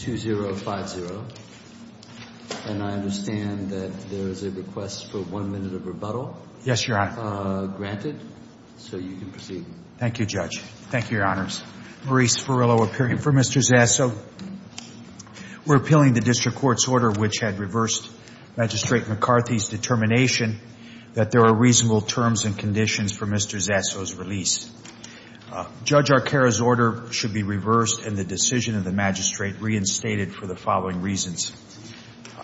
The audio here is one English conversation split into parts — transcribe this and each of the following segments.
222050. And I understand that there is a request for one minute of rebuttal. Yes, Your Honor. Granted. So you can proceed. Thank you, Judge. Thank you, Your Honors. Maurice Ferrillo appearing for Mr. Zaso. We're appealing the District Court's order which had reversed Magistrate McCarthy's determination that there are reasonable terms and conditions for Mr. Zaso's release. Judge Arcaro's order should be reversed and the decision of the magistrate reinstated for the following reasons.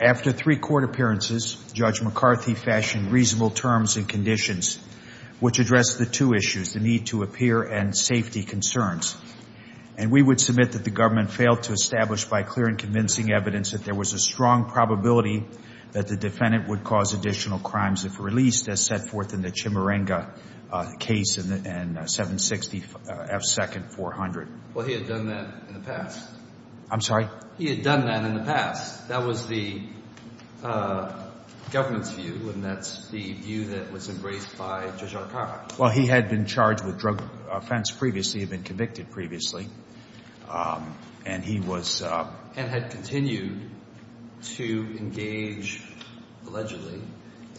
After three court appearances, Judge McCarthy fashioned reasonable terms and conditions which addressed the two issues, the need to appear and safety concerns. And we would submit that the government failed to establish by clear and convincing evidence that there was a strong probability that the defendant would cause additional crimes if released as set forth in the Chimurenga case in 760 F. Second 400. Well, he had done that in the past. I'm sorry? He had done that in the past. That was the government's view and that's the view that was embraced by Judge Arcaro. Well, he had been charged with drug offense previously, had been convicted previously. And he was... And had continued to engage, allegedly,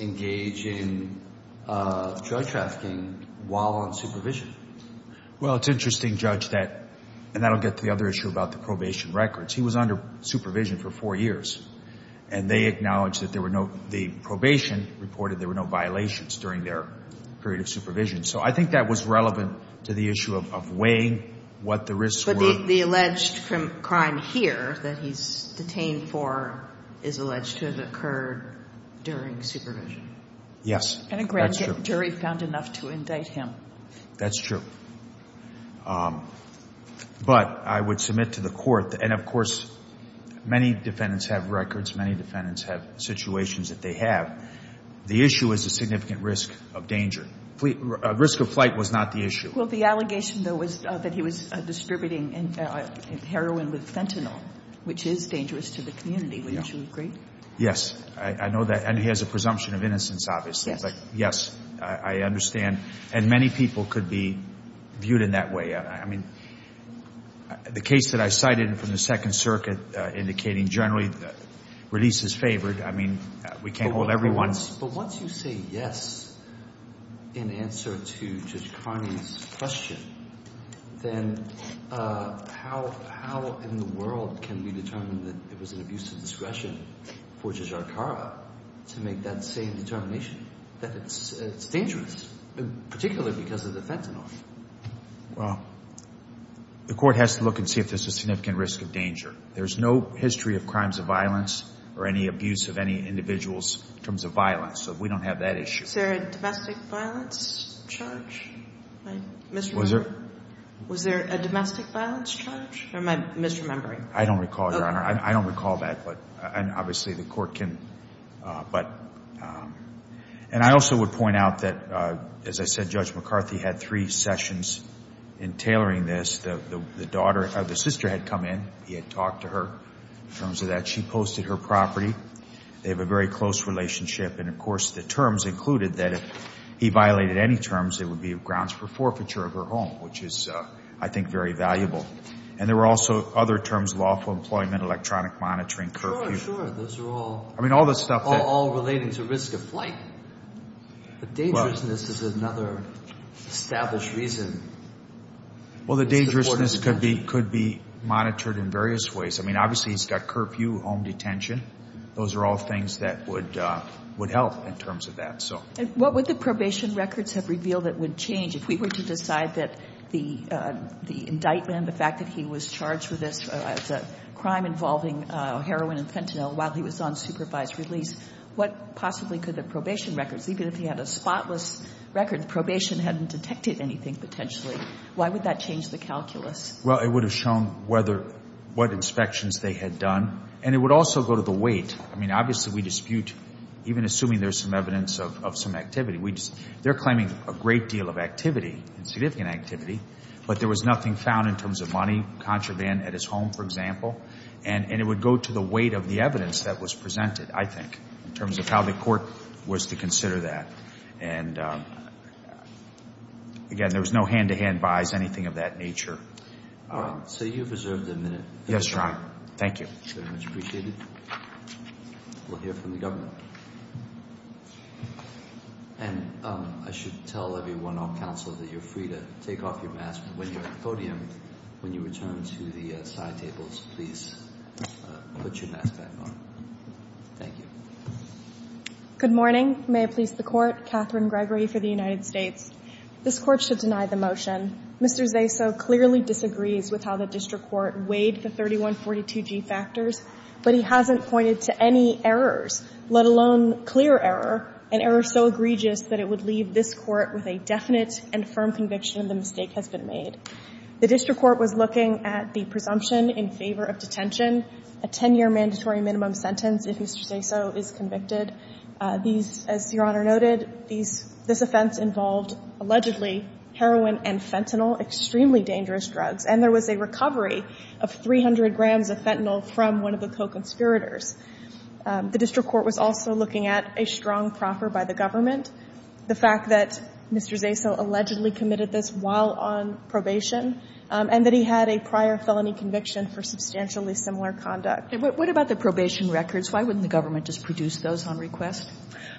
engage in drug trafficking while on supervision. Well, it's interesting, Judge, that, and that will get to the other issue about the probation records. He was under supervision for four years and they acknowledged that there were no, the probation reported there were no violations during their period of supervision. So I think that was the risk. But the alleged crime here that he's detained for is alleged to have occurred during supervision. Yes. And a grand jury found enough to indict him. That's true. But I would submit to the court, and of course, many defendants have records, many defendants have situations that they have. The issue is the significant risk of danger. Risk of flight was not the issue. Well, the heroin with fentanyl, which is dangerous to the community. Wouldn't you agree? Yes. I know that. And he has a presumption of innocence, obviously. Yes. Yes. I understand. And many people could be viewed in that way. I mean, the case that I cited from the Second Circuit indicating generally that release is favored. I mean, we can't hold everyone... But once you say yes, in answer to Judge Carney's question, then how in the world can we determine that it was an abuse of discretion for Ja'Arqara to make that same determination, that it's dangerous, particularly because of the fentanyl? Well, the court has to look and see if there's a significant risk of danger. There's no history of crimes of violence or any abuse of any individuals in terms of violence. So we don't have that issue. Is there a domestic violence charge? Was there a domestic violence charge? Or am I misremembering? I don't recall, Your Honor. I don't recall that. But obviously, the court can... And I also would point out that, as I said, Judge McCarthy had three sessions in tailoring this. The sister had come in. He had talked to her in terms of that. She posted her property. They have a very close relationship. And of course, the terms included that if he violated any terms, it would be grounds for forfeiture of her home, which is, I think, very valuable. And there were also other terms, lawful employment, electronic monitoring, curfew. Sure, sure. Those are all... I mean, all the stuff that... All relating to risk of flight. But dangerousness is another established reason. Well, the dangerousness could be monitored in various ways. I mean, obviously, he's got curfew, home detention. Those are all things that would help in terms of that. And what would the probation records have revealed that would change if we were to decide that the indictment, the fact that he was charged with this crime involving heroin and fentanyl while he was on supervised release, what possibly could the probation records... Even if he had a spotless record, the probation hadn't detected anything potentially. Why would that change the calculus? Well, it would have shown whether... What inspections they had done. And it would also go to the weight. I mean, obviously, we dispute, even assuming there's some evidence of some activity, we just... They're claiming a great deal of activity, significant activity, but there was nothing found in terms of money, contraband at his home, for example. And it would go to the weight of the evidence that was presented, I think, in terms of how the court was to consider that. And again, there was no hand-to-hand buys, anything of that nature. All right. So you've reserved a minute. Yes, Your Honor. Thank you. Very much appreciated. We'll hear from the government. And I should tell everyone on counsel that you're free to take off your mask when you're at the podium. When you return to the side tables, please put your mask back on. Thank you. Good morning. May it please the Court. Catherine Gregory for the United States. This Court should deny the motion. Mr. Zaso clearly disagrees with how the district court weighed the 3142G factors, but he hasn't pointed to any errors, let alone clear error, an error so egregious that it would leave this Court with a definite and firm conviction the mistake has been made. The district court was looking at the presumption in favor of detention, a 10-year mandatory minimum sentence if Mr. Zaso is convicted, these, as Your Honor noted, these – this offense involved allegedly heroin and fentanyl, extremely dangerous drugs, and there was a recovery of 300 grams of fentanyl from one of the co-conspirators. The district court was also looking at a strong proffer by the government, the fact that Mr. Zaso allegedly committed this while on probation, and that he had a prior felony conviction for substantially similar conduct. What about the probation records? Why wouldn't the government just produce those on request?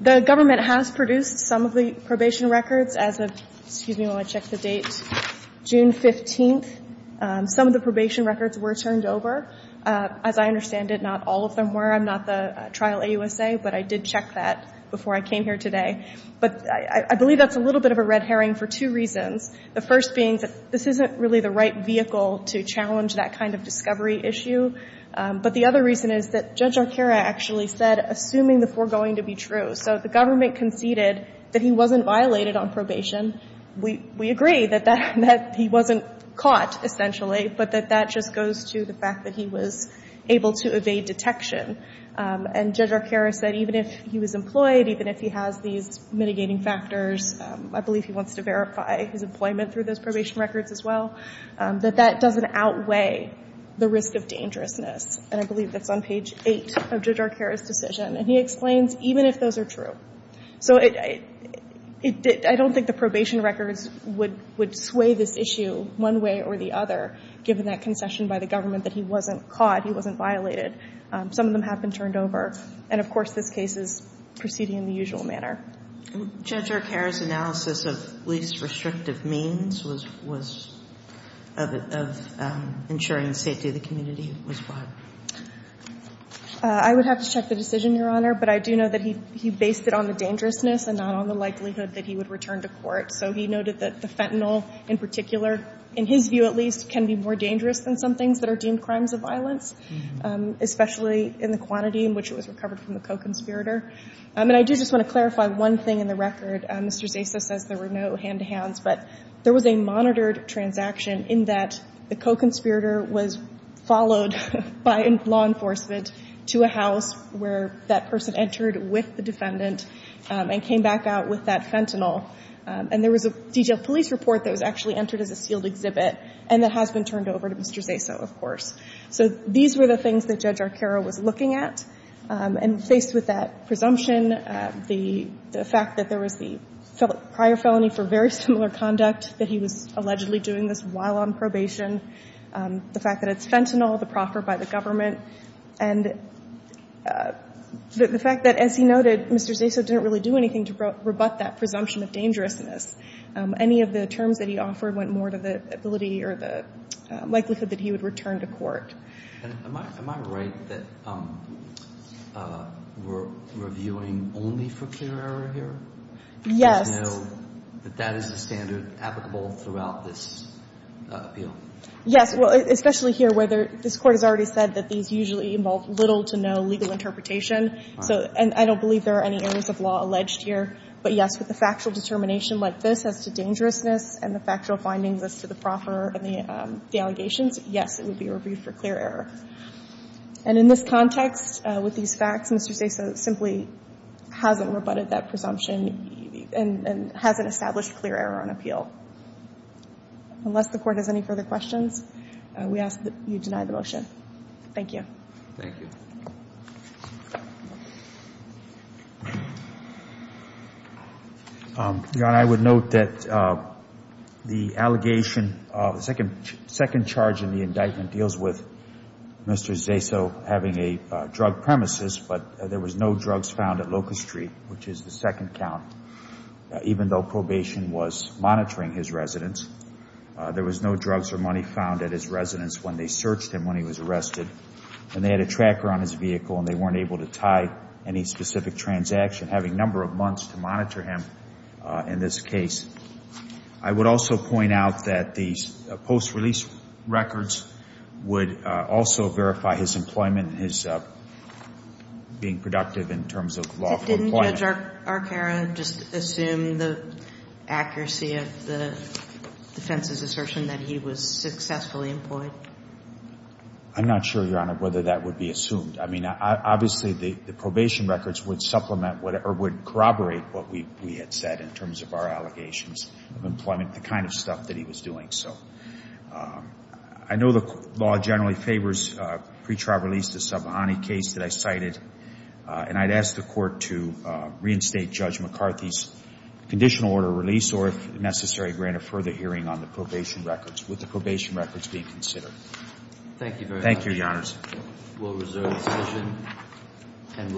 The government has produced some of the probation records as of – excuse me while I check the date – June 15th. Some of the probation records were turned over. As I understand it, not all of them were. I'm not the trial AUSA, but I did check that before I came here today. But I believe that's a little bit of a red herring for two reasons, the first being that this isn't really the right vehicle to challenge that kind of discovery issue, but the other reason is that Judge Arcaro actually said, assuming the foregoing to be true, so if the government conceded that he wasn't violated on probation, we – we agree that that – that he wasn't caught, essentially, but that that just goes to the fact that he was able to evade detection. And Judge Arcaro said even if he was employed, even if he has these mitigating factors, I believe he wants to verify his employment through those probation records as well, that that doesn't outweigh the risk of dangerousness. And I believe that's on page 8 of Judge Arcaro's decision. And he explains even if those are true. So it – I don't think the probation records would sway this issue one way or the other, given that concession by the government that he wasn't caught, he wasn't violated. Some of them have been turned over. And of course, this case is proceeding in the usual manner. Judge Arcaro's analysis of least restrictive means was – was – of – of ensuring the safety of the community was what? I would have to check the decision, Your Honor, but I do know that he – he based it on the dangerousness and not on the likelihood that he would return to court. So he noted that the fentanyl, in particular, in his view at least, can be more dangerous than some things that are deemed crimes of violence, especially in the quantity in which it was recovered from the co-conspirator. And I do just want to clarify one thing in the record. Mr. Zaso says there were no hand-to-hands, but there was a monitored transaction in that the co-conspirator was followed by law enforcement to a house where that person entered with the defendant and came back out with that fentanyl. And there was a detailed police report that was actually entered as a sealed exhibit and that has been turned over to Mr. Zaso, of course. So these were the things that Judge Arcaro was looking at. And faced with that presumption, the – the fact that there was the prior felony for very similar conduct, that he was allegedly doing this while on probation, the fact that it's fentanyl, the proffer by the government, and the fact that, as he noted, Mr. Zaso didn't really do anything to rebut that presumption of dangerousness. Any of the terms that he offered went more to the ability or the likelihood that he would return to court. And am I – am I right that we're reviewing only for clear error here? Yes. Do you know that that is the standard applicable throughout this appeal? Yes. Well, especially here where there – this Court has already said that these usually involve little to no legal interpretation. So – and I don't believe there are any areas of law alleged here. But, yes, with a factual determination like this as to dangerousness and the factual findings as to the proffer and the allegations, yes, it would be reviewed for clear error. And in this context, with these facts, Mr. Zaso simply hasn't rebutted that presumption and – and hasn't established clear error on appeal. Unless the Court has any further questions, we ask that you deny the motion. Thank you. Thank you. Your Honor, I would note that the allegation – the second charge in the indictment deals with Mr. Zaso having a drug premises, but there was no drugs found at Locust Street, which is the second count. Even though probation was monitoring his residence, there was no drugs or money found at his residence when they searched him when he was arrested. And they had a tracker on his vehicle, and they weren't able to tie any specific transaction, having a number of months to monitor him in this case. I would also point out that the post-release records would also verify his employment and his being productive in terms of lawful employment. But didn't Judge Arcaro just assume the accuracy of the defense's assertion that he was successfully employed? I'm not sure, Your Honor, whether that would be assumed. I mean, obviously, the probation records would supplement or would corroborate what we had said in terms of our allegations of employment, the kind of stuff that he was doing. So I know the law generally favors pre-trial release, the Sabahani case that I cited, and I'd ask the Court to reinstate Judge McCarthy's conditional order of release or, if necessary, grant a further hearing on the probation records with the probation records being considered. Thank you very much. Thank you, Your Honors. We'll reserve the session, and we'll